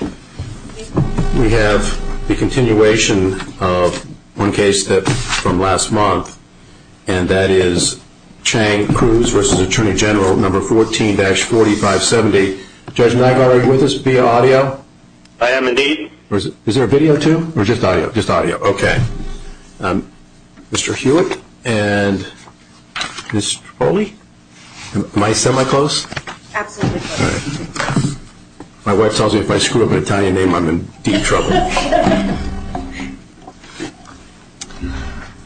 We have the continuation of one case from last month, and that is Chang Cruz v. Atty. Gen. No. 14-4570. Judge Nygard, are you with us via audio? I am indeed. Is there a video too? Or just audio? Just audio. Okay. Mr. Hewitt and Ms. Trapoli? Am I semi-close? Absolutely close. My wife tells me if I screw up an Italian name, I'm in deep trouble.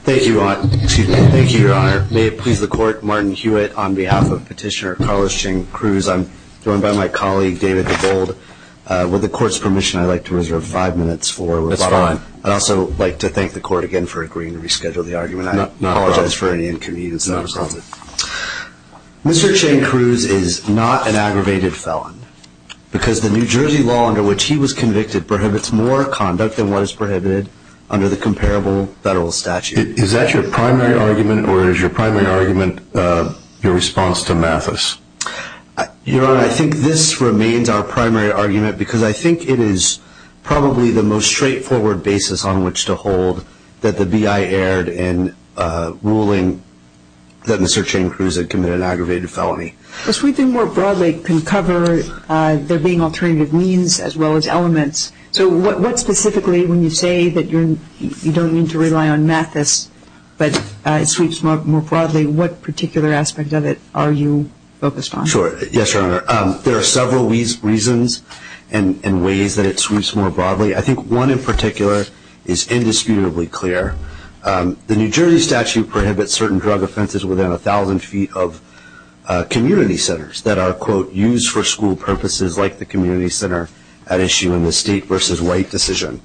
Thank you, Your Honor. May it please the Court, Martin Hewitt on behalf of Petitioner Carlos Chang Cruz. I'm joined by my colleague, David DeBold. With the Court's permission, I'd like to reserve five minutes for rebuttal. That's fine. I'd also like to thank the Court again for agreeing to reschedule the argument. I apologize for any inconvenience. Not a problem. Mr. Chang Cruz is not an aggravated felon, because the New Jersey law under which he was convicted prohibits more conduct than what is prohibited under the comparable federal statute. Is that your primary argument, or is your primary argument your response to Mathis? Your Honor, I think this remains our primary argument, because I think it is probably the most straightforward basis on which to hold that the B.I. erred in ruling that Mr. Chang Cruz had committed an aggravated felony. The sweeping more broadly can cover there being alternative means, as well as elements. So what specifically, when you say that you don't mean to rely on Mathis, but it sweeps more broadly, what particular aspect of it are you focused on? Sure. Yes, Your Honor. There are several reasons and ways that it sweeps more broadly. I think one in particular is indisputably clear. The New Jersey statute prohibits certain drug offenses within 1,000 feet of community centers that are, quote, used for school purposes like the community center at issue in the state versus white decision.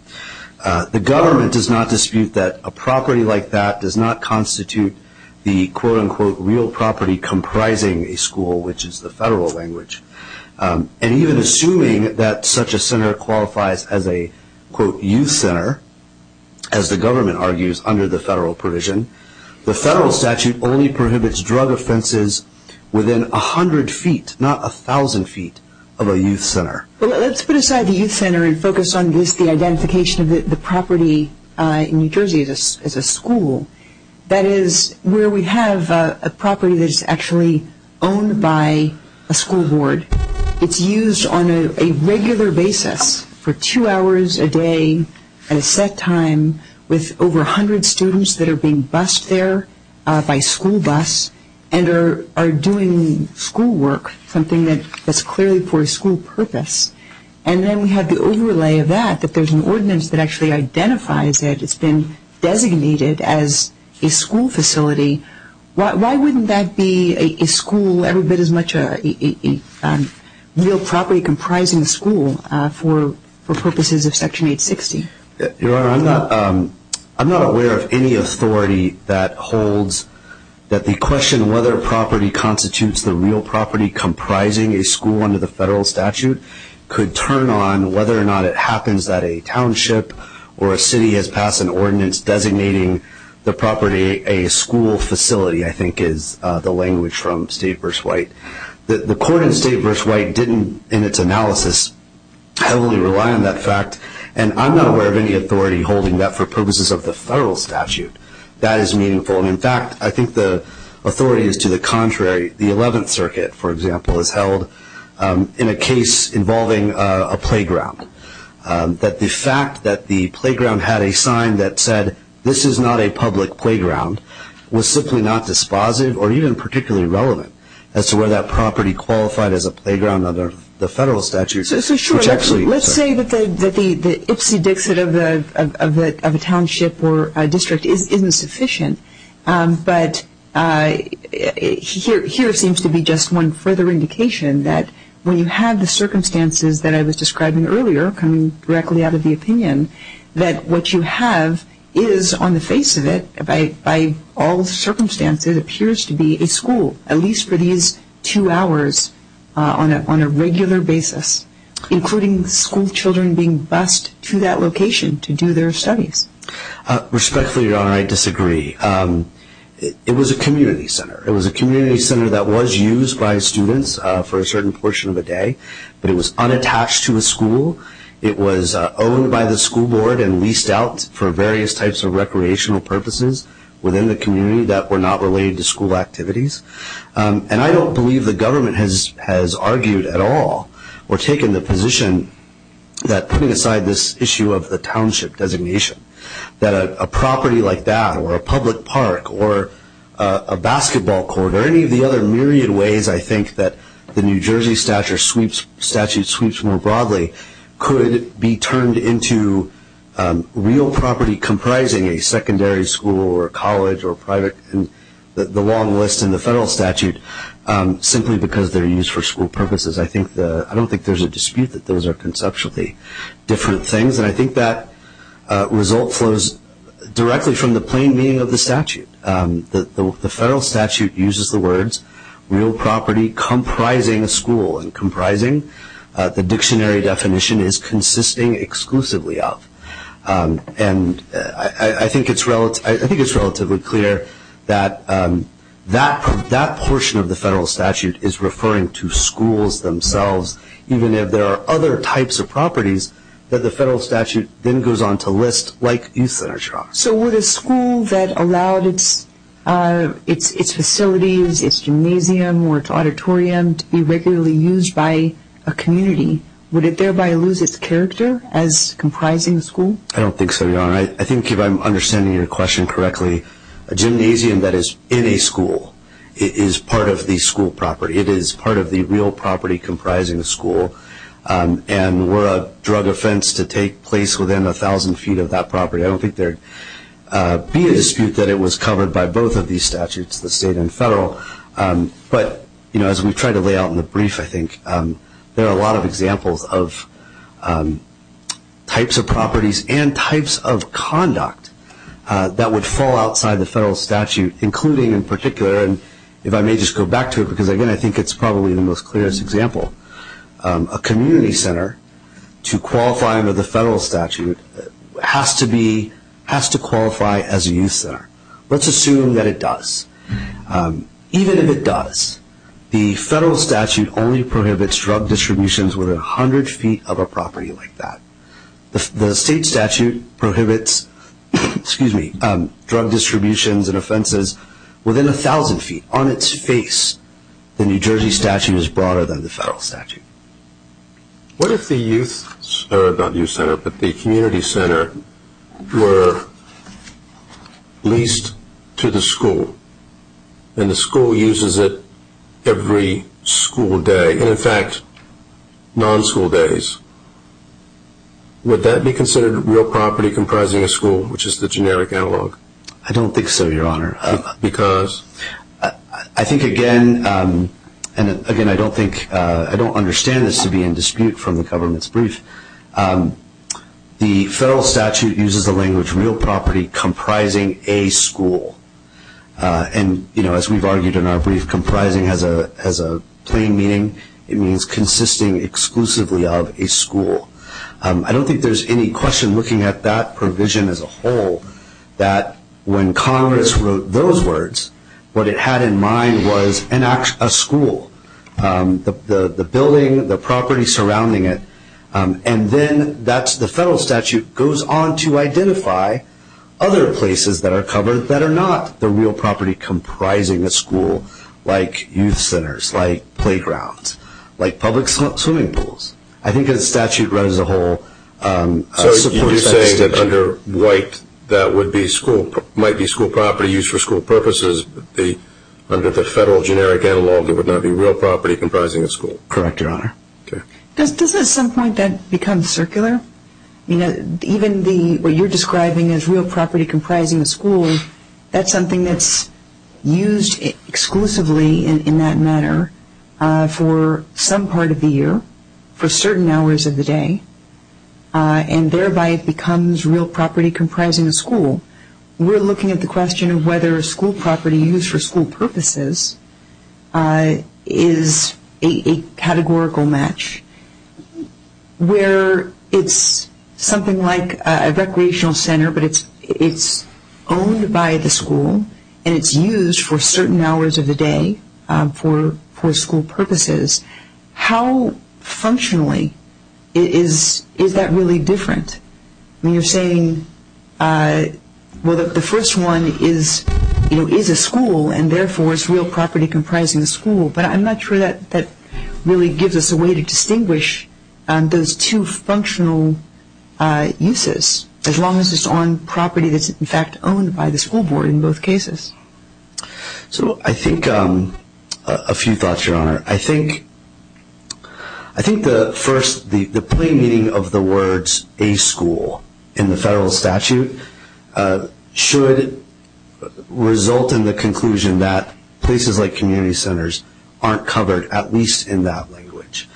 The government does not dispute that a property like that does not constitute the, quote, unquote, real property comprising a school, which is the federal language. And even assuming that such a center qualifies as a, quote, youth center, as the government argues under the federal provision, the federal statute only prohibits drug offenses within 100 feet, not 1,000 feet, of a youth center. Well, let's put aside the youth center and focus on just the identification of the property in New Jersey as a school. That is where we have a property that is actually owned by a school board. It's used on a regular basis for two hours a day at a set time with over 100 students that are being bussed there by school bus and are doing school work, something that's clearly for a school purpose. And then we have the overlay of that, that there's an ordinance that actually identifies it. It's been designated as a school facility. Why wouldn't that be a school every bit as much a real property comprising a school for purposes of Section 860? Your Honor, I'm not aware of any authority that holds that the question whether property constitutes the real property comprising a school under the federal statute could turn on whether or not it happens that a township or a city has passed an ordinance designating the property a school facility, I think is the language from State v. White. The court in State v. White didn't, in its analysis, heavily rely on that fact. And I'm not aware of any authority holding that for purposes of the federal statute. That is meaningful. And, in fact, I think the authority is to the contrary. The Eleventh Circuit, for example, has held in a case involving a playground that the fact that the playground had a sign that said this is not a public playground was simply not dispositive or even particularly relevant as to whether that property qualified as a playground under the federal statute. Let's say that the ipsy-dixit of a township or a district isn't sufficient. But here seems to be just one further indication that when you have the circumstances that I was describing earlier, coming directly out of the opinion, that what you have is, on the face of it, by all circumstances, it appears to be a school, at least for these two hours on a regular basis, including schoolchildren being bused to that location to do their studies. Respectfully, Your Honor, I disagree. It was a community center. It was a community center that was used by students for a certain portion of the day, but it was unattached to a school. It was owned by the school board and leased out for various types of recreational purposes within the community that were not related to school activities. And I don't believe the government has argued at all or taken the position that putting aside this issue of the township designation, that a property like that or a public park or a basketball court or any of the other myriad ways, I think, that the New Jersey statute sweeps more broadly, could be turned into real property comprising a secondary school or a college or the long list in the federal statute simply because they're used for school purposes. I don't think there's a dispute that those are conceptually different things, and I think that result flows directly from the plain meaning of the statute. The federal statute uses the words real property comprising a school and comprising the dictionary definition is consisting exclusively of. And I think it's relatively clear that that portion of the federal statute is referring to schools themselves, even if there are other types of properties that the federal statute then goes on to list like youth centers. So would a school that allowed its facilities, its gymnasium or its auditorium to be regularly used by a community, would it thereby lose its character as comprising a school? I don't think so, Your Honor. I think if I'm understanding your question correctly, a gymnasium that is in a school is part of the school property. It is part of the real property comprising a school. And were a drug offense to take place within 1,000 feet of that property, I don't think there would be a dispute that it was covered by both of these statutes, the state and federal. But as we've tried to lay out in the brief, I think there are a lot of examples of types of properties and types of conduct that would fall outside the federal statute, including in particular, and if I may just go back to it because, again, I think it's probably the most clearest example, a community center to qualify under the federal statute has to qualify as a youth center. Let's assume that it does. Even if it does, the federal statute only prohibits drug distributions within 100 feet of a property like that. The state statute prohibits drug distributions and offenses within 1,000 feet. On its face, the New Jersey statute is broader than the federal statute. What if the youth center, the community center were leased to the school and the school uses it every school day and, in fact, non-school days? Would that be considered real property comprising a school, which is the generic analog? I don't think so, Your Honor. Because? I think, again, and, again, I don't think, I don't understand this to be in dispute from the government's brief. The federal statute uses the language real property comprising a school. And, you know, as we've argued in our brief, comprising has a plain meaning. I don't think there's any question looking at that provision as a whole that when Congress wrote those words, what it had in mind was a school, the building, the property surrounding it. And then the federal statute goes on to identify other places that are covered that are not the real property comprising a school, like youth centers, like playgrounds, like public swimming pools. I think the statute runs as a whole. So you're saying that under White that would be school, might be school property used for school purposes, but under the federal generic analog there would not be real property comprising a school? Correct, Your Honor. Okay. Does at some point that become circular? You know, even what you're describing as real property comprising a school, that's something that's used exclusively in that manner for some part of the year, for certain hours of the day, and thereby it becomes real property comprising a school. We're looking at the question of whether a school property used for school purposes is a categorical match, where it's something like a recreational center, but it's owned by the school and it's used for certain hours of the day for school purposes. How functionally is that really different? I mean, you're saying, well, the first one is a school, and therefore it's real property comprising a school, but I'm not sure that really gives us a way to distinguish those two functional uses, as long as it's on property that's, in fact, owned by the school board in both cases. So I think a few thoughts, Your Honor. I think the first, the plain meaning of the words a school in the federal statute should result in the conclusion that places like community centers aren't covered, at least in that language.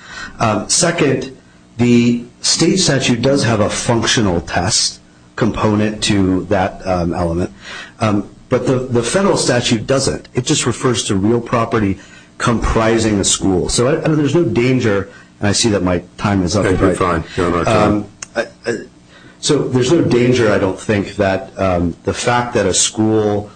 Second, the state statute does have a functional test component to that element, but the federal statute doesn't. It just refers to real property comprising a school. So there's no danger, and I see that my time is up. Okay, fine. You're on our time. So there's no danger, I don't think, that the fact that a school,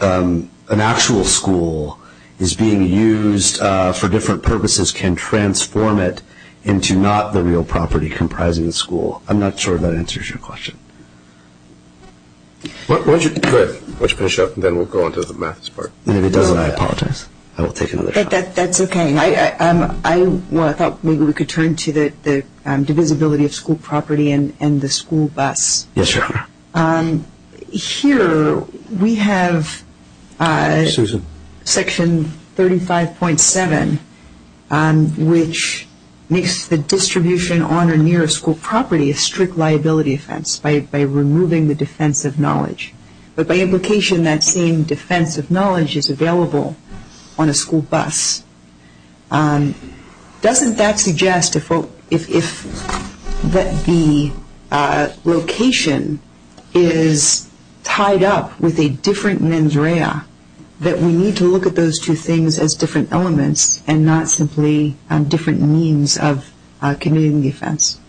an actual school, is being used for different purposes can transform it into not the real property comprising a school. I'm not sure if that answers your question. Why don't you finish up, and then we'll go on to the math part. And if it doesn't, I apologize. I will take another shot. That's okay. I thought maybe we could turn to the divisibility of school property and the school bus. Yes, Your Honor. Here we have section 35.7, which makes the distribution on or near a school property a strict liability offense by removing the defense of knowledge. But by implication, that same defense of knowledge is available on a school bus. Doesn't that suggest if the location is tied up with a different mens rea, that we need to look at those two things as different elements and not simply different means of committing the offense?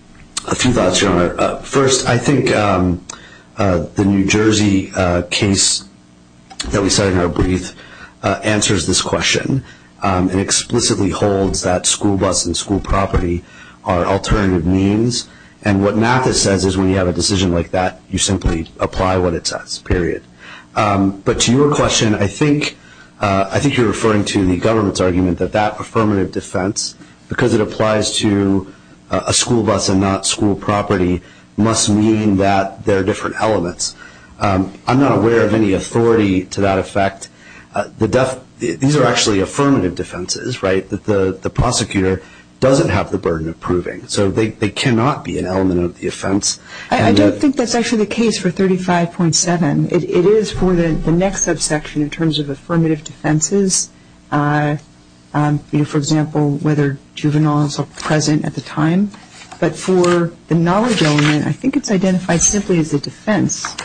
A few thoughts, Your Honor. First, I think the New Jersey case that we cited in our brief answers this question and explicitly holds that school bus and school property are alternative means. And what NAFTA says is when you have a decision like that, you simply apply what it says, period. But to your question, I think you're referring to the government's argument that that affirmative defense, because it applies to a school bus and not school property, must mean that there are different elements. I'm not aware of any authority to that effect. These are actually affirmative defenses, right, that the prosecutor doesn't have the burden of proving. So they cannot be an element of the offense. I don't think that's actually the case for 35.7. It is for the next subsection in terms of affirmative defenses. For example, whether juveniles are present at the time. But for the knowledge element, I think it's identified simply as a defense,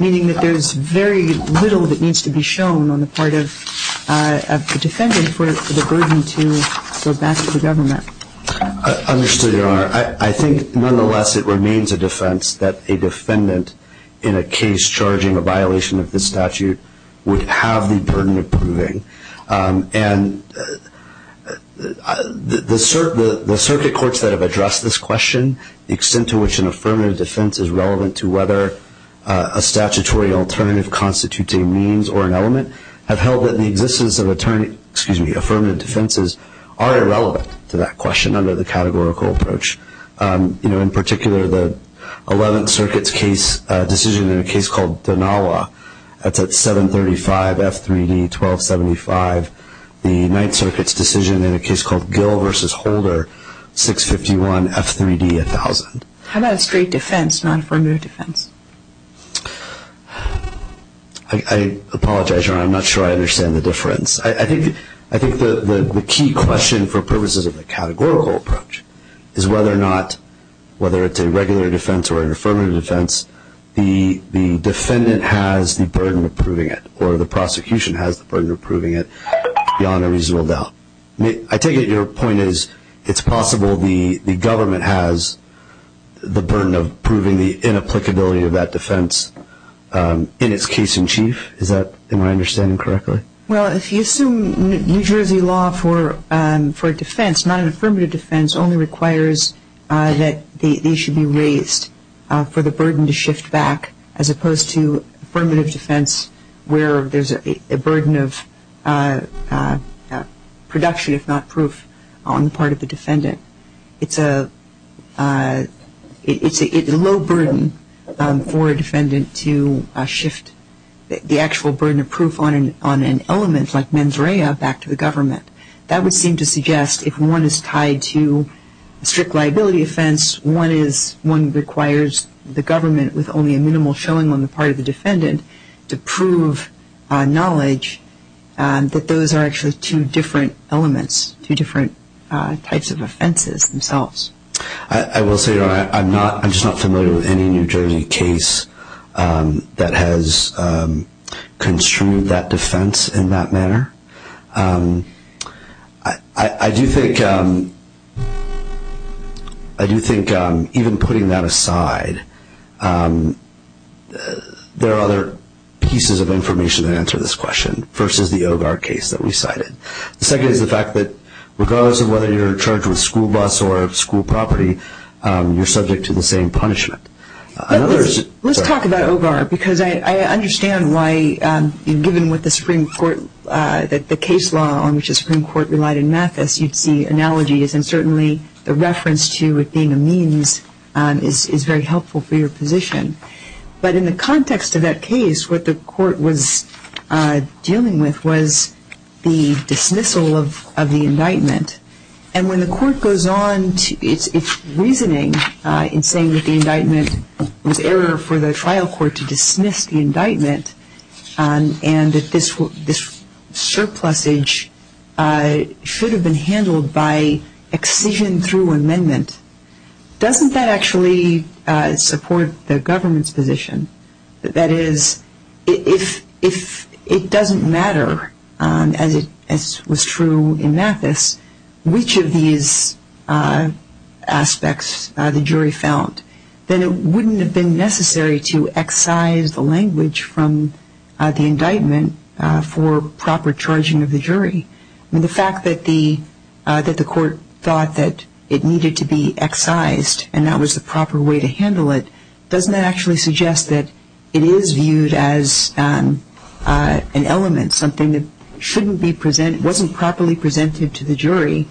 meaning that there's very little that needs to be shown on the part of the defendant for the burden to go back to the government. Understood, Your Honor. I think nonetheless it remains a defense that a defendant in a case charging a violation of this statute would have the burden of proving. And the circuit courts that have addressed this question, the extent to which an affirmative defense is relevant to whether a statutory alternative constitutes a means or an element, have held that the existence of affirmative defenses are irrelevant to that question under the categorical approach. In particular, the Eleventh Circuit's decision in a case called Donawa, that's at 735 F3D 1275. The Ninth Circuit's decision in a case called Gill v. Holder, 651 F3D 1000. How about a straight defense, not an affirmative defense? I apologize, Your Honor. I'm not sure I understand the difference. I think the key question for purposes of the categorical approach is whether or not, whether it's a regular defense or an affirmative defense, the defendant has the burden of proving it or the prosecution has the burden of proving it beyond a reasonable doubt. I take it your point is it's possible the government has the burden of proving the inapplicability of that defense in its case in chief. Am I understanding correctly? Well, if you assume New Jersey law for a defense, not an affirmative defense, only requires that these should be raised for the burden to shift back as opposed to affirmative defense where there's a burden of production, if not proof, on the part of the defendant. It's a low burden for a defendant to shift the actual burden of proof on an element like mens rea back to the government. That would seem to suggest if one is tied to a strict liability offense, one requires the government with only a minimal showing on the part of the defendant to prove knowledge that those are actually two different elements, two different types of offenses themselves. I will say I'm just not familiar with any New Jersey case that has construed that defense in that manner. I do think even putting that aside, there are other pieces of information that answer this question. First is the OVAR case that we cited. The second is the fact that regardless of whether you're charged with school bus or school property, you're subject to the same punishment. Let's talk about OVAR because I understand why given what the Supreme Court, the case law on which the Supreme Court relied in Mathis, you'd see analogies and certainly the reference to it being a means is very helpful for your position. But in the context of that case, what the court was dealing with was the dismissal of the indictment. And when the court goes on its reasoning in saying that the indictment was error for the trial court to dismiss the indictment and that this surplusage should have been handled by excision through amendment, doesn't that actually support the government's position? That is, if it doesn't matter, as was true in Mathis, which of these aspects the jury found, then it wouldn't have been necessary to excise the language from the indictment for proper charging of the jury. The fact that the court thought that it needed to be excised and that was the proper way to handle it, doesn't that actually suggest that it is viewed as an element, something that wasn't properly presented to the jury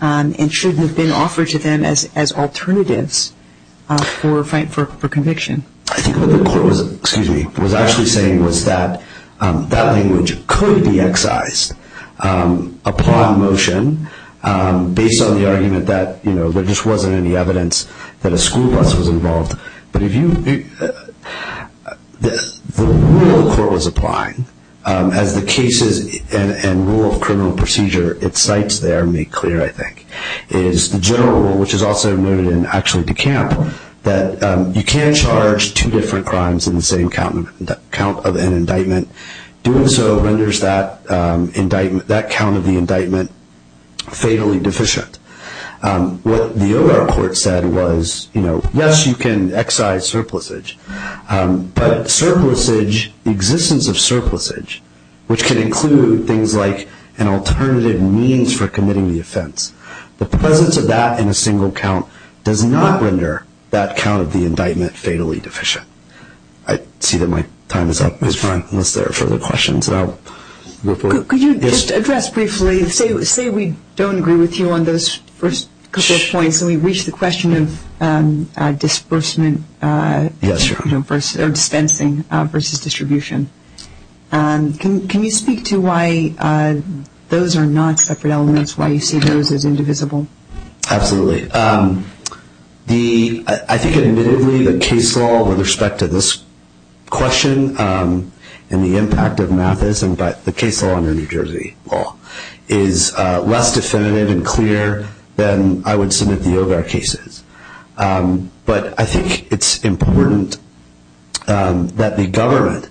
and shouldn't have been offered to them as alternatives for conviction? I think what the court was actually saying was that that language could be excised upon motion based on the argument that there just wasn't any evidence that a school bus was involved. But the rule the court was applying, as the cases and rule of criminal procedure it cites there make clear, I think, is the general rule, which is also noted in actually DeCamp, that you can't charge two different crimes in the same count of an indictment. Doing so renders that count of the indictment fatally deficient. What the O.R. court said was, yes, you can excise surplusage, but the existence of surplusage, which can include things like an alternative means for committing the offense, the presence of that in a single count does not render that count of the indictment fatally deficient. I see that my time is up, unless there are further questions. Could you just address briefly, say we don't agree with you on those first couple of points, and we reach the question of dispensing versus distribution. Can you speak to why those are not separate elements, why you see those as indivisible? Absolutely. I think, admittedly, the case law with respect to this question and the impact of Mathis and the case law under New Jersey law is less definitive and clear than I would submit the O.R. cases. But I think it's important that the government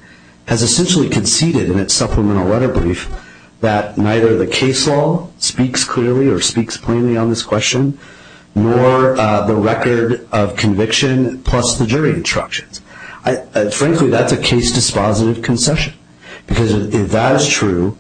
has essentially conceded in its supplemental letter brief that neither the case law speaks clearly or speaks plainly on this question, nor the record of conviction plus the jury instructions. Frankly, that's a case dispositive concession, because if that is true,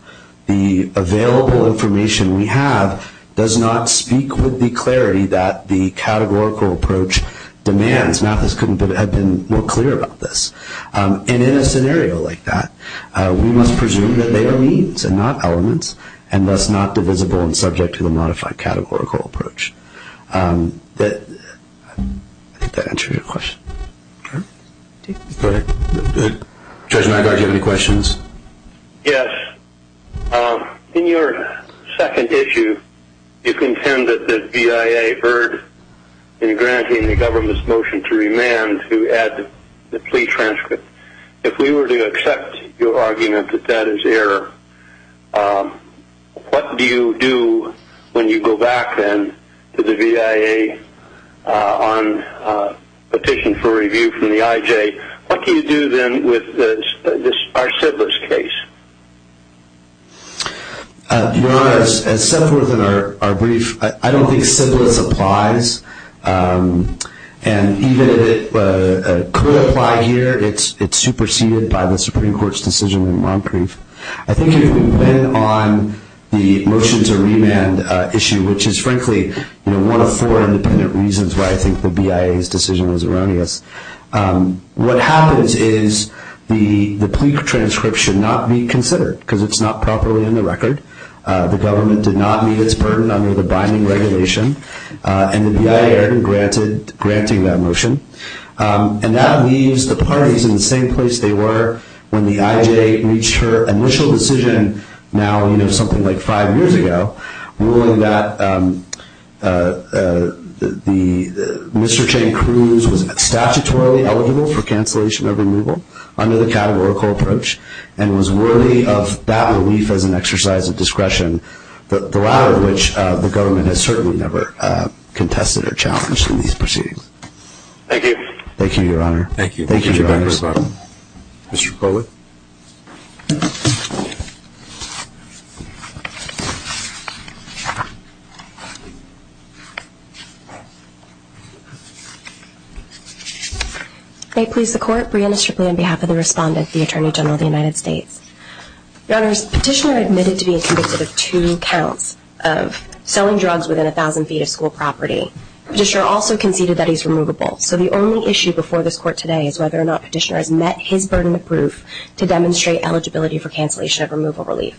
the available information we have does not speak with the clarity that the categorical approach demands. Mathis couldn't have been more clear about this. And in a scenario like that, we must presume that they are means and not elements, and thus not divisible and subject to the modified categorical approach. I think that answers your question. Judge Nygaard, do you have any questions? Yes. In your second issue, you contend that the BIA erred in granting the government's motion to remand and to add the plea transcript. If we were to accept your argument that that is error, what do you do when you go back, then, to the BIA on petition for review from the IJ? What do you do, then, with our Sybilis case? Your Honor, as set forth in our brief, I don't think Sybilis applies. And even if it could apply here, it's superseded by the Supreme Court's decision in Moncrief. I think if we went on the motion to remand issue, which is frankly one of four independent reasons why I think the BIA's decision was erroneous, what happens is the plea transcript should not be considered because it's not properly in the record. The government did not meet its burden under the binding regulation, and the BIA erred in granting that motion. And that leaves the parties in the same place they were when the IJ reached her initial decision, now something like five years ago, ruling that Mr. Chang-Cruz was statutorily eligible for cancellation of removal under the categorical approach and was worthy of that relief as an exercise of discretion, the latter of which the government has certainly never contested or challenged in these proceedings. Thank you. Thank you, Your Honor. Thank you. Thank you, Your Honor. Mr. Kola? May it please the Court, Brianna Stripley on behalf of the respondent, the Attorney General of the United States. Your Honors, Petitioner admitted to being convicted of two counts of selling drugs within a thousand feet of school property. Petitioner also conceded that he's removable. So the only issue before this Court today is whether or not Petitioner has met his burden of proof to demonstrate eligibility for cancellation of removal relief.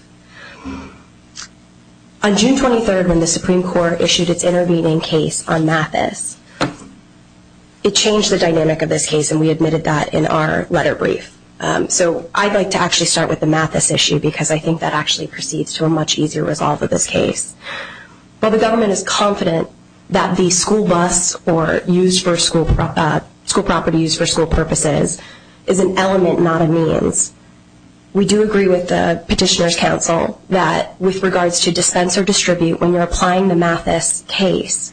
On June 23rd, when the Supreme Court issued its intervening case on Mathis, it changed the dynamic of this case, and we admitted that in our letter brief. So I'd like to actually start with the Mathis issue, because I think that actually proceeds to a much easier resolve of this case. While the government is confident that the school bus or school property used for school purposes is an element, not a means, we do agree with the Petitioner's counsel that with regards to dispense or distribute when you're applying the Mathis case,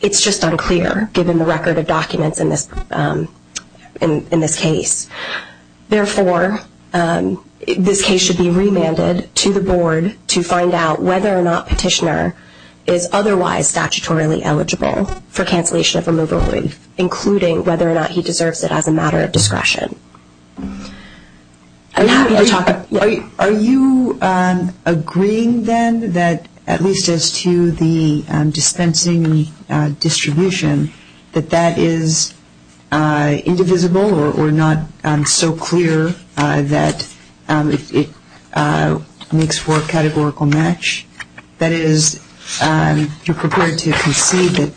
it's just unclear given the record of documents in this case. Therefore, this case should be remanded to the Board to find out whether or not Petitioner is otherwise statutorily eligible for cancellation of removal relief, including whether or not he deserves it as a matter of discretion. Are you agreeing then that, at least as to the dispensing and distribution, that that is indivisible or not so clear that it makes for a categorical match? That is, you're prepared to concede that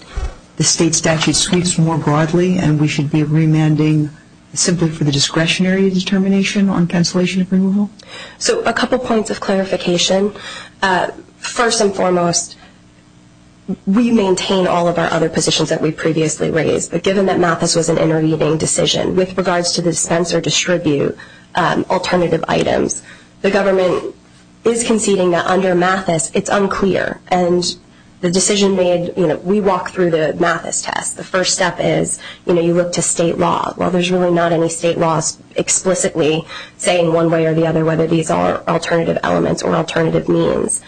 the state statute speaks more broadly and we should be remanding simply for the discretionary determination on cancellation of removal? So a couple points of clarification. First and foremost, we maintain all of our other positions that we previously raised, but given that Mathis was an intervening decision with regards to the dispense or distribute alternative items, the government is conceding that under Mathis it's unclear. And the decision made, you know, we walk through the Mathis test. The first step is, you know, you look to state law. While there's really not any state laws explicitly saying one way or the other whether these are alternative elements or alternative means,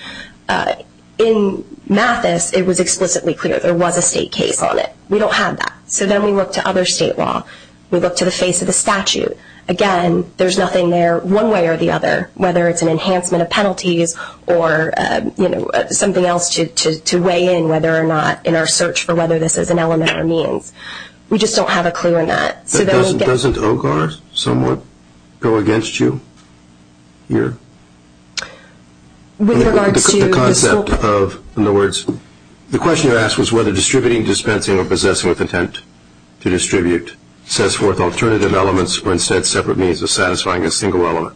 in Mathis it was explicitly clear there was a state case on it. We don't have that. So then we look to other state law. We look to the face of the statute. Again, there's nothing there one way or the other, whether it's an enhancement of penalties or, you know, something else to weigh in whether or not in our search for whether this is an element or means. We just don't have a clue on that. Doesn't OGAR somewhat go against you here? With regards to the scope? In other words, the question you asked was whether distributing, dispensing, or possessing with intent to distribute sets forth alternative elements or instead separate means of satisfying a single element.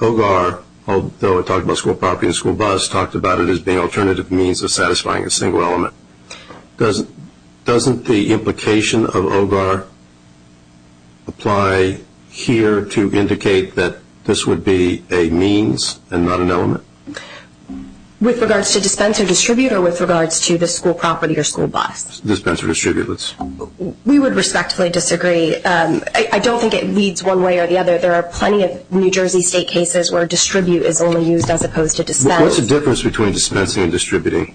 OGAR, although it talked about school property and school bus, talked about it as being alternative means of satisfying a single element. Doesn't the implication of OGAR apply here to indicate that this would be a means and not an element? With regards to dispense or distribute or with regards to the school property or school bus? Dispense or distribute. We would respectfully disagree. I don't think it leads one way or the other. There are plenty of New Jersey State cases where distribute is only used as opposed to dispense. What's the difference between dispensing and distributing?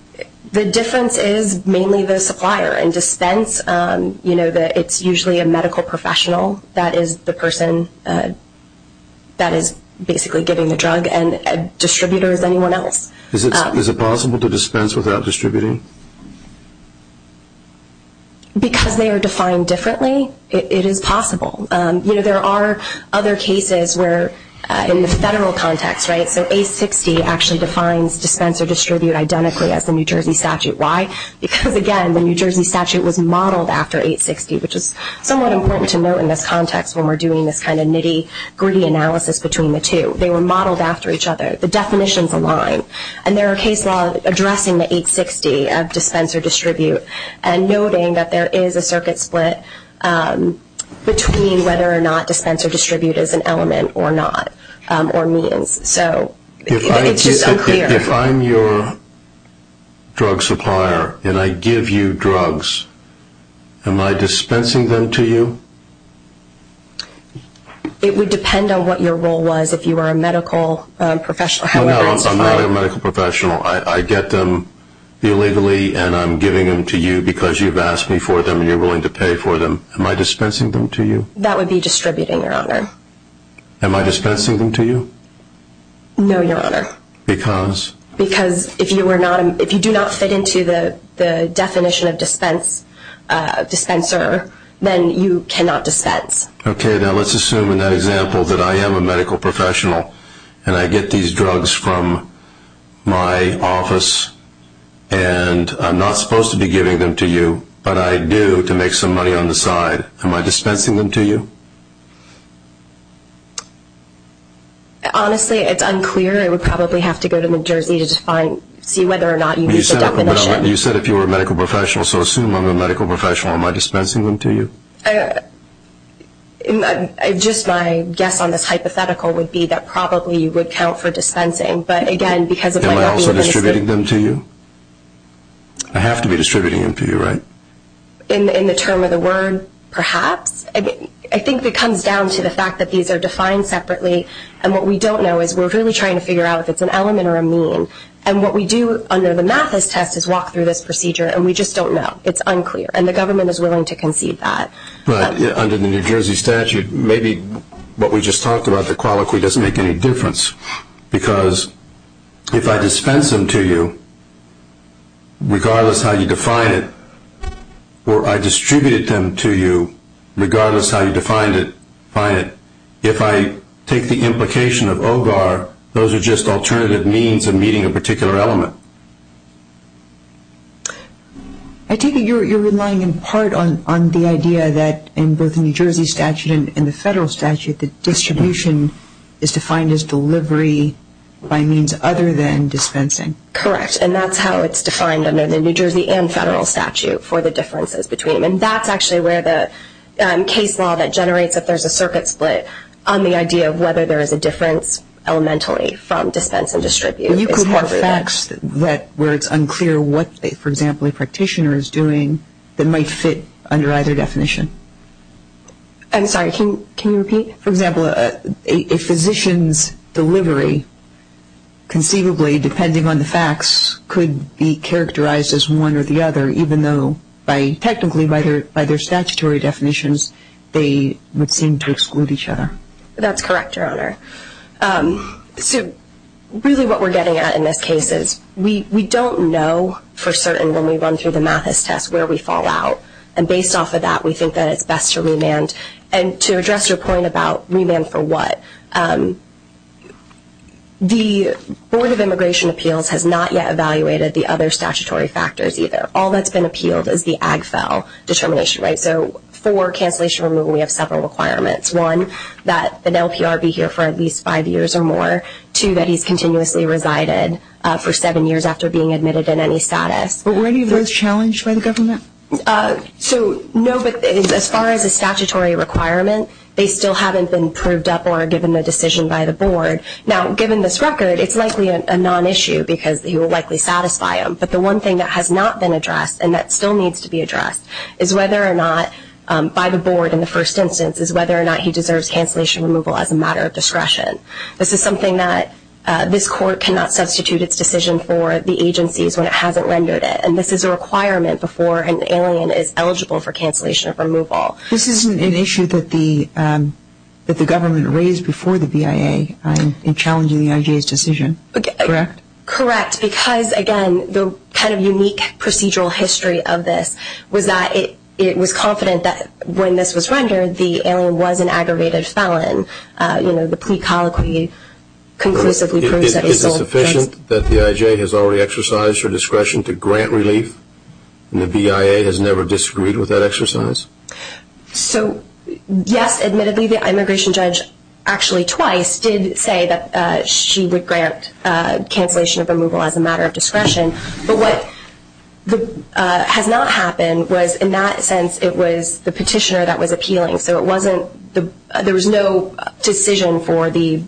The difference is mainly the supplier. In dispense, you know, it's usually a medical professional that is the person that is basically giving the drug and a distributor is anyone else. Is it possible to dispense without distributing? Because they are defined differently, it is possible. You know, there are other cases where in the federal context, right, so 860 actually defines dispense or distribute identically as the New Jersey statute. Why? Because, again, the New Jersey statute was modeled after 860, which is somewhat important to note in this context when we're doing this kind of nitty-gritty analysis between the two. They were modeled after each other. The definitions align. And there are case laws addressing the 860 of dispense or distribute and noting that there is a circuit split between whether or not dispense or distribute is an element or not or means. So it's just unclear. If I'm your drug supplier and I give you drugs, am I dispensing them to you? It would depend on what your role was if you were a medical professional. No, I'm not a medical professional. I get them illegally and I'm giving them to you because you've asked me for them and you're willing to pay for them. Am I dispensing them to you? That would be distributing, Your Honor. Am I dispensing them to you? No, Your Honor. Because? Because if you do not fit into the definition of dispenser, then you cannot dispense. Okay, now let's assume in that example that I am a medical professional and I get these drugs from my office and I'm not supposed to be giving them to you, but I do to make some money on the side. Am I dispensing them to you? Honestly, it's unclear. I would probably have to go to New Jersey to see whether or not you meet the definition. You said if you were a medical professional, so assume I'm a medical professional. Am I dispensing them to you? Just my guess on this hypothetical would be that probably you would count for dispensing. Am I also distributing them to you? I have to be distributing them to you, right? In the term of the word, perhaps. I think it comes down to the fact that these are defined separately and what we don't know is we're really trying to figure out if it's an element or a mean. And what we do under the Mathis test is walk through this procedure and we just don't know. It's unclear, and the government is willing to concede that. But under the New Jersey statute, maybe what we just talked about, the colloquy, doesn't make any difference because if I dispense them to you, regardless how you define it, or I distributed them to you, regardless how you define it, if I take the implication of OGAR, those are just alternative means of meeting a particular element. I take it you're relying in part on the idea that in both the New Jersey statute and the federal statute that distribution is defined as delivery by means other than dispensing. Correct. And that's how it's defined under the New Jersey and federal statute for the differences between them. And that's actually where the case law that generates if there's a circuit split on the idea of whether there is a difference elementally from dispense and distribute. You could have facts where it's unclear what, for example, a practitioner is doing that might fit under either definition. I'm sorry, can you repeat? For example, a physician's delivery conceivably, depending on the facts, could be characterized as one or the other even though technically by their statutory definitions they would seem to exclude each other. That's correct, Your Honor. So really what we're getting at in this case is we don't know for certain when we run through the Mathis test where we fall out. And based off of that, we think that it's best to remand. And to address your point about remand for what, the Board of Immigration Appeals has not yet evaluated the other statutory factors either. All that's been appealed is the AGFEL determination, right? So for cancellation or removal, we have several requirements. One, that an LPR be here for at least five years or more. Two, that he's continuously resided for seven years after being admitted in any status. But were any of those challenged by the government? So no, but as far as a statutory requirement, they still haven't been proved up or given a decision by the board. Now, given this record, it's likely a non-issue because he will likely satisfy them. But the one thing that has not been addressed and that still needs to be addressed is whether or not, by the board in the first instance, is whether or not he deserves cancellation or removal as a matter of discretion. This is something that this court cannot substitute its decision for the agencies when it hasn't rendered it. And this is a requirement before an alien is eligible for cancellation or removal. This isn't an issue that the government raised before the BIA in challenging the IJ's decision, correct? Correct. Because, again, the kind of unique procedural history of this was that it was confident that when this was rendered, the alien was an aggravated felon. You know, the plea colloquy conclusively proves that he sold drugs. Is it sufficient that the IJ has already exercised her discretion to grant relief and the BIA has never disagreed with that exercise? So, yes, admittedly, the immigration judge actually twice did say that she would grant cancellation or removal as a matter of discretion. But what has not happened was, in that sense, it was the petitioner that was appealing. So it wasn't there was no decision for the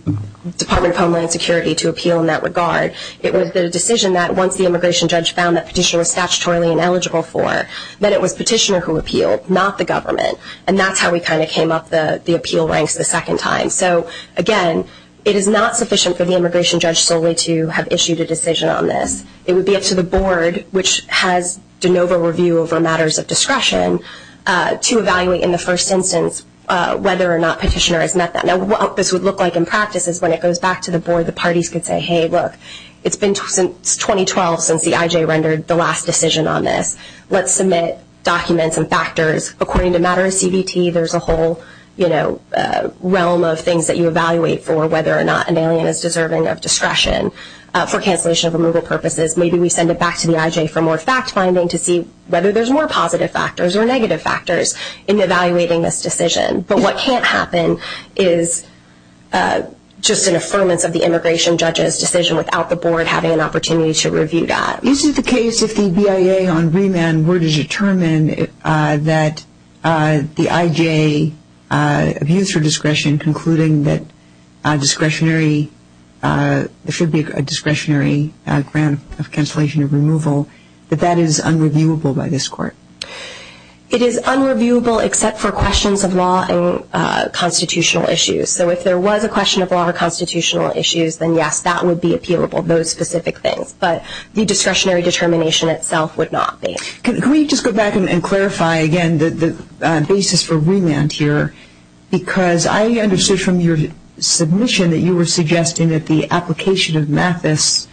Department of Homeland Security to appeal in that regard. It was the decision that once the immigration judge found that petitioner was statutorily ineligible for, that it was petitioner who appealed, not the government. And that's how we kind of came up the appeal ranks the second time. So, again, it is not sufficient for the immigration judge solely to have issued a decision on this. It would be up to the board, which has de novo review over matters of discretion, to evaluate in the first instance whether or not petitioner has met that. Now, what this would look like in practice is when it goes back to the board, the parties could say, hey, look, it's been 2012 since the IJ rendered the last decision on this. Let's submit documents and factors. According to matter of CBT, there's a whole realm of things that you evaluate for whether or not an alien is deserving of discretion for cancellation of removal purposes. Maybe we send it back to the IJ for more fact-finding to see whether there's more positive factors or negative factors in evaluating this decision. But what can't happen is just an affirmance of the immigration judge's decision without the board having an opportunity to review that. Is it the case if the BIA on remand were to determine that the IJ views for discretion, concluding that there should be a discretionary grant of cancellation of removal, that that is unreviewable by this court? It is unreviewable except for questions of law and constitutional issues. So if there was a question of law or constitutional issues, then yes, that would be appealable, those specific things. But the discretionary determination itself would not be. Can we just go back and clarify again the basis for remand here? Because I understood from your submission that you were suggesting that the application of MATHIS,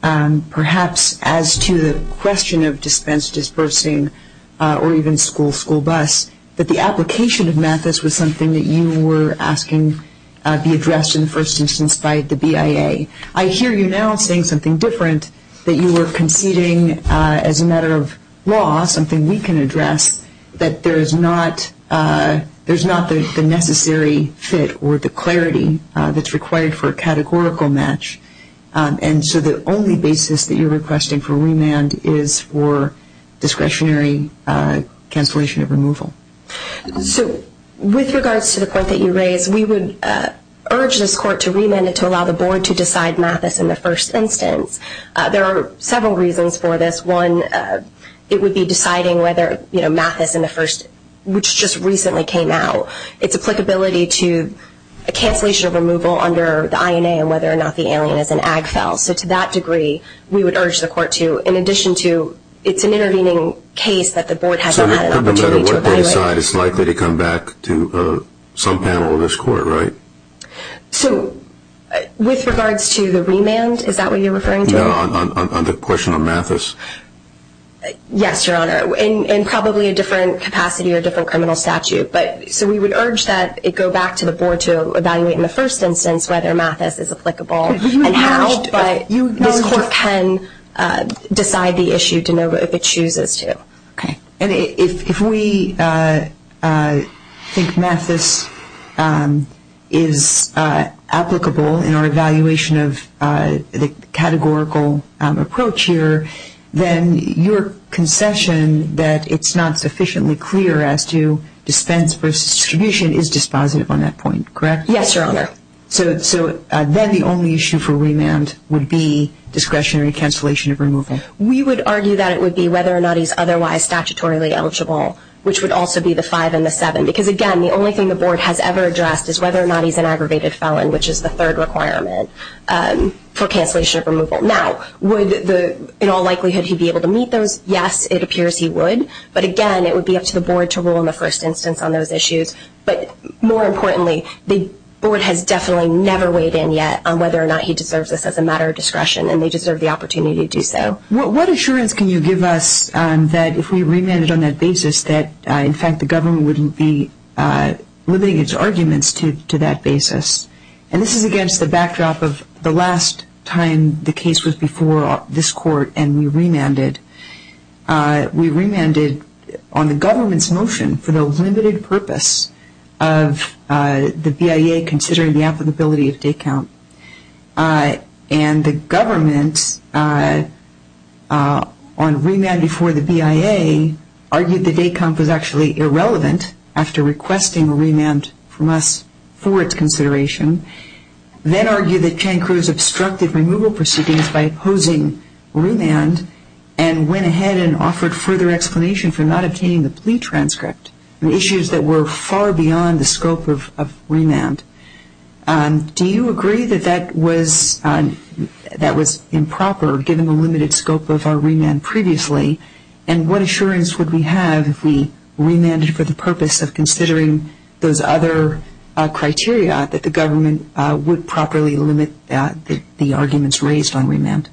perhaps as to the question of dispense, dispersing, or even school-school bus, that the application of MATHIS was something that you were asking be addressed in the first instance by the BIA. I hear you now saying something different, that you were conceding as a matter of law, something we can address, that there is not the necessary fit or the clarity that's required for a categorical match. And so the only basis that you're requesting for remand is for discretionary cancellation of removal. So with regards to the point that you raised, we would urge this court to remand it to allow the Board to decide MATHIS in the first instance. There are several reasons for this. One, it would be deciding whether MATHIS in the first, which just recently came out, it's applicability to a cancellation of removal under the INA and whether or not the alien is an ag fel. So to that degree, we would urge the court to, in addition to, it's an intervening case that the Board hasn't had an opportunity to evaluate. So no matter what they decide, it's likely to come back to some panel of this court, right? So with regards to the remand, is that what you're referring to? No, on the question of MATHIS. Yes, Your Honor, in probably a different capacity or different criminal statute. So we would urge that it go back to the Board to evaluate in the first instance whether MATHIS is applicable. And how this court can decide the issue to know if it chooses to. Okay. And if we think MATHIS is applicable in our evaluation of the categorical approach here, then your concession that it's not sufficiently clear as to dispense versus distribution is dispositive on that point, correct? Yes, Your Honor. So then the only issue for remand would be discretionary cancellation of removal. We would argue that it would be whether or not he's otherwise statutorily eligible, which would also be the five and the seven. Because, again, the only thing the Board has ever addressed is whether or not he's an aggravated felon, which is the third requirement for cancellation of removal. Now, would in all likelihood he be able to meet those? Yes, it appears he would. But, again, it would be up to the Board to rule in the first instance on those issues. But more importantly, the Board has definitely never weighed in yet on whether or not he deserves this as a matter of discretion, and they deserve the opportunity to do so. What assurance can you give us that if we remand it on that basis that, in fact, the government wouldn't be limiting its arguments to that basis? And this is against the backdrop of the last time the case was before this Court and we remanded. We remanded on the government's motion for the limited purpose of the BIA considering the applicability of date count. And the government, on remand before the BIA, argued the date count was actually irrelevant after requesting a remand from us for its consideration, then argued that Chang-Cruz obstructed removal proceedings by opposing remand and went ahead and offered further explanation for not obtaining the plea transcript, issues that were far beyond the scope of remand. Do you agree that that was improper, given the limited scope of our remand previously? And what assurance would we have if we remanded for the purpose of considering those other criteria that the government would properly limit the arguments raised on remand?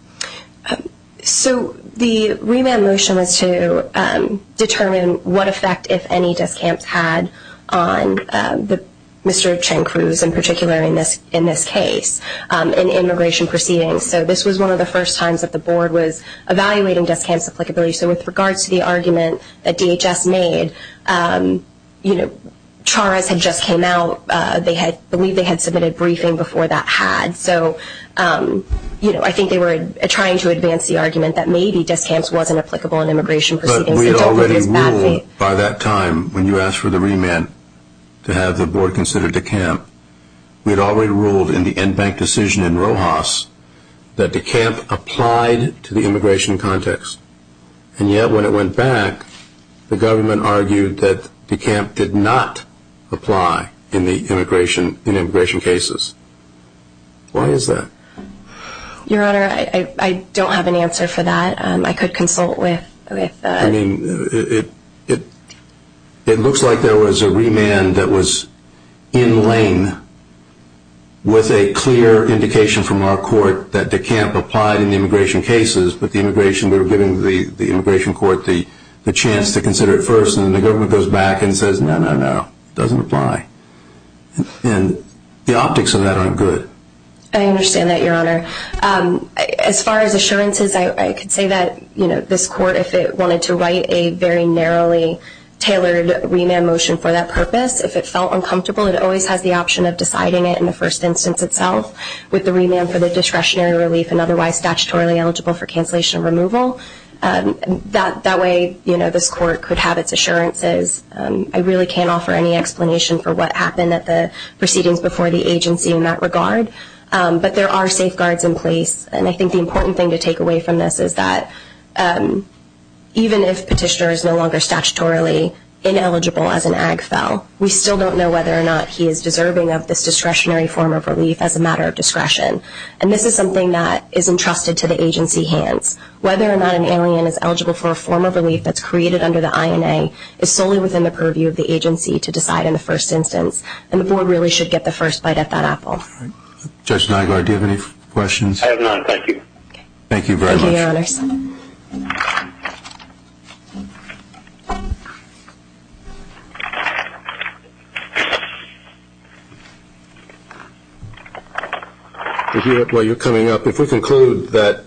So the remand motion was to determine what effect, if any, discounts had on Mr. Chang-Cruz, in particular in this case, in immigration proceedings. So this was one of the first times that the Board was evaluating discounts applicability. So with regards to the argument that DHS made, you know, Charas had just came out, I believe they had submitted a briefing before that had. So, you know, I think they were trying to advance the argument that maybe discounts wasn't applicable in immigration proceedings. But we had already ruled by that time, when you asked for the remand, to have the Board consider decant. We had already ruled in the end bank decision in Rojas that decant applied to the immigration context. And yet when it went back, the government argued that decant did not apply in immigration cases. Why is that? Your Honor, I don't have an answer for that. I could consult with... I mean, it looks like there was a remand that was in lane with a clear indication from our court that decant applied in the immigration cases, but the immigration, we were giving the immigration court the chance to consider it first. And then the government goes back and says, no, no, no, it doesn't apply. And the optics of that aren't good. I understand that, Your Honor. As far as assurances, I could say that, you know, this court, if it wanted to write a very narrowly tailored remand motion for that purpose, if it felt uncomfortable, it always has the option of deciding it in the first instance itself with the remand for the discretionary relief and otherwise statutorily eligible for cancellation removal. That way, you know, this court could have its assurances. I really can't offer any explanation for what happened at the proceedings before the agency in that regard. But there are safeguards in place, and I think the important thing to take away from this is that even if a petitioner is no longer statutorily ineligible as an AGFEL, we still don't know whether or not he is deserving of this discretionary form of relief as a matter of discretion. And this is something that is entrusted to the agency hands. Whether or not an alien is eligible for a form of relief that's created under the INA is solely within the purview of the agency to decide in the first instance, and the board really should get the first bite of that apple. Judge Nygaard, do you have any questions? I have none, thank you. Thank you very much. Thank you, Your Honors. While you're coming up, if we conclude that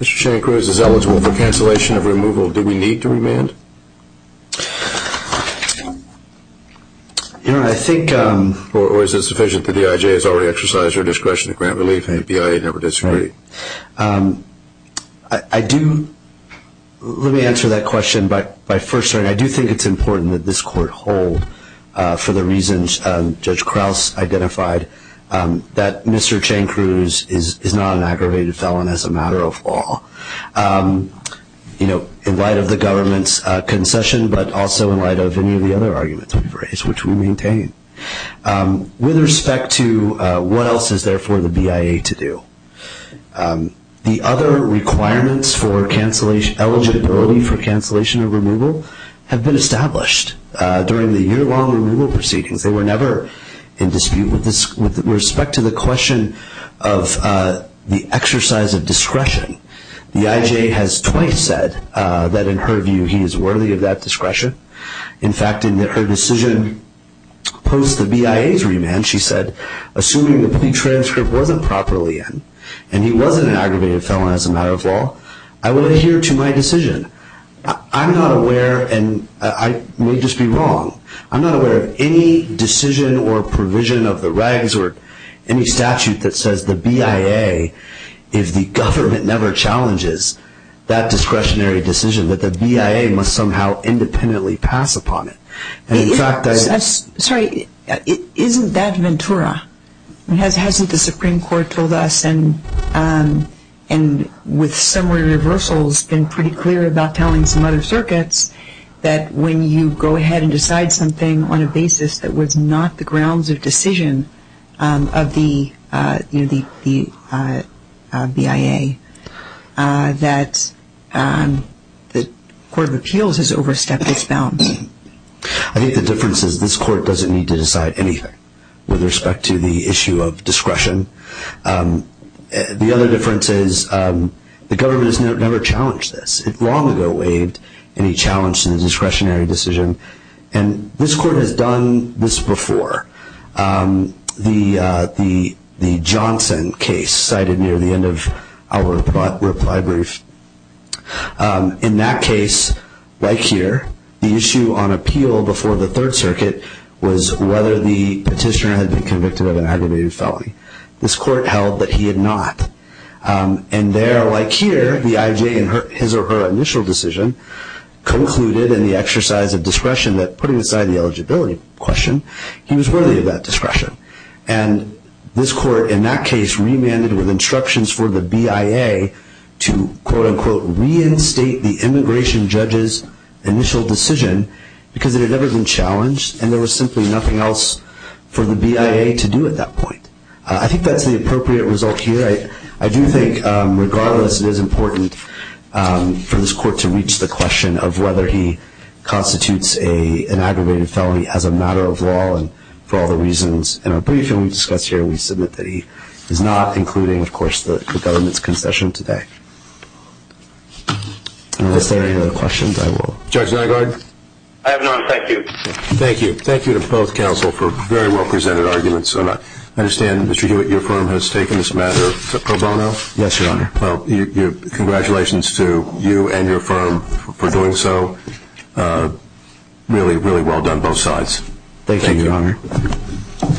Mr. Shankruz is eligible for cancellation of removal, do we need to remand? Or is it sufficient that the IJA has already exercised their discretion to grant relief and the BIA never disagreed? Let me answer that question by first saying I do think it's important that this court hold, for the reasons Judge Krause identified, that Mr. Shankruz is not an aggravated felon as a matter of law. In light of the government's concession, but also in light of any of the other arguments we've raised, which we maintain. With respect to what else is there for the BIA to do, the other requirements for eligibility for cancellation of removal have been established during the year-long removal proceedings. They were never in dispute with respect to the question of the exercise of discretion. The IJA has twice said that, in her view, he is worthy of that discretion. In fact, in her decision post the BIA's remand, she said, assuming the pre-transcript wasn't properly in, and he wasn't an aggravated felon as a matter of law, I would adhere to my decision. I'm not aware, and I may just be wrong, I'm not aware of any decision or provision of the regs or any statute that says the BIA, if the government never challenges that discretionary decision, that the BIA must somehow independently pass upon it. Sorry, isn't that Ventura? Hasn't the Supreme Court told us, and with summary reversals, been pretty clear about telling some other circuits that when you go ahead and decide something on a basis that was not the grounds of decision of the BIA, that the Court of Appeals has overstepped its bounds? I think the difference is this Court doesn't need to decide anything with respect to the issue of discretion. The other difference is the government has never challenged this. It long ago waived any challenge to the discretionary decision. And this Court has done this before. The Johnson case cited near the end of our reply brief. In that case, like here, the issue on appeal before the Third Circuit was whether the petitioner had been convicted of an aggravated felony. This Court held that he had not. And there, like here, the IJ in his or her initial decision concluded in the exercise of discretion that, putting aside the eligibility question, he was worthy of that discretion. And this Court, in that case, remanded with instructions for the BIA to quote-unquote reinstate the immigration judge's initial decision because it had never been challenged and there was simply nothing else for the BIA to do at that point. I think that's the appropriate result here. I do think, regardless, it is important for this Court to reach the question of whether he constitutes an aggravated felony as a matter of law and for all the reasons in our briefing we've discussed here, we submit that he is not, including, of course, the government's concession today. Unless there are any other questions, I will. Judge Nygaard? I have none. Thank you. Thank you. Thank you to both counsel for very well presented arguments. I understand, Mr. Hewitt, your firm has taken this matter pro bono? Yes, Your Honor. Well, congratulations to you and your firm for doing so. Really, really well done both sides. Thank you, Your Honor.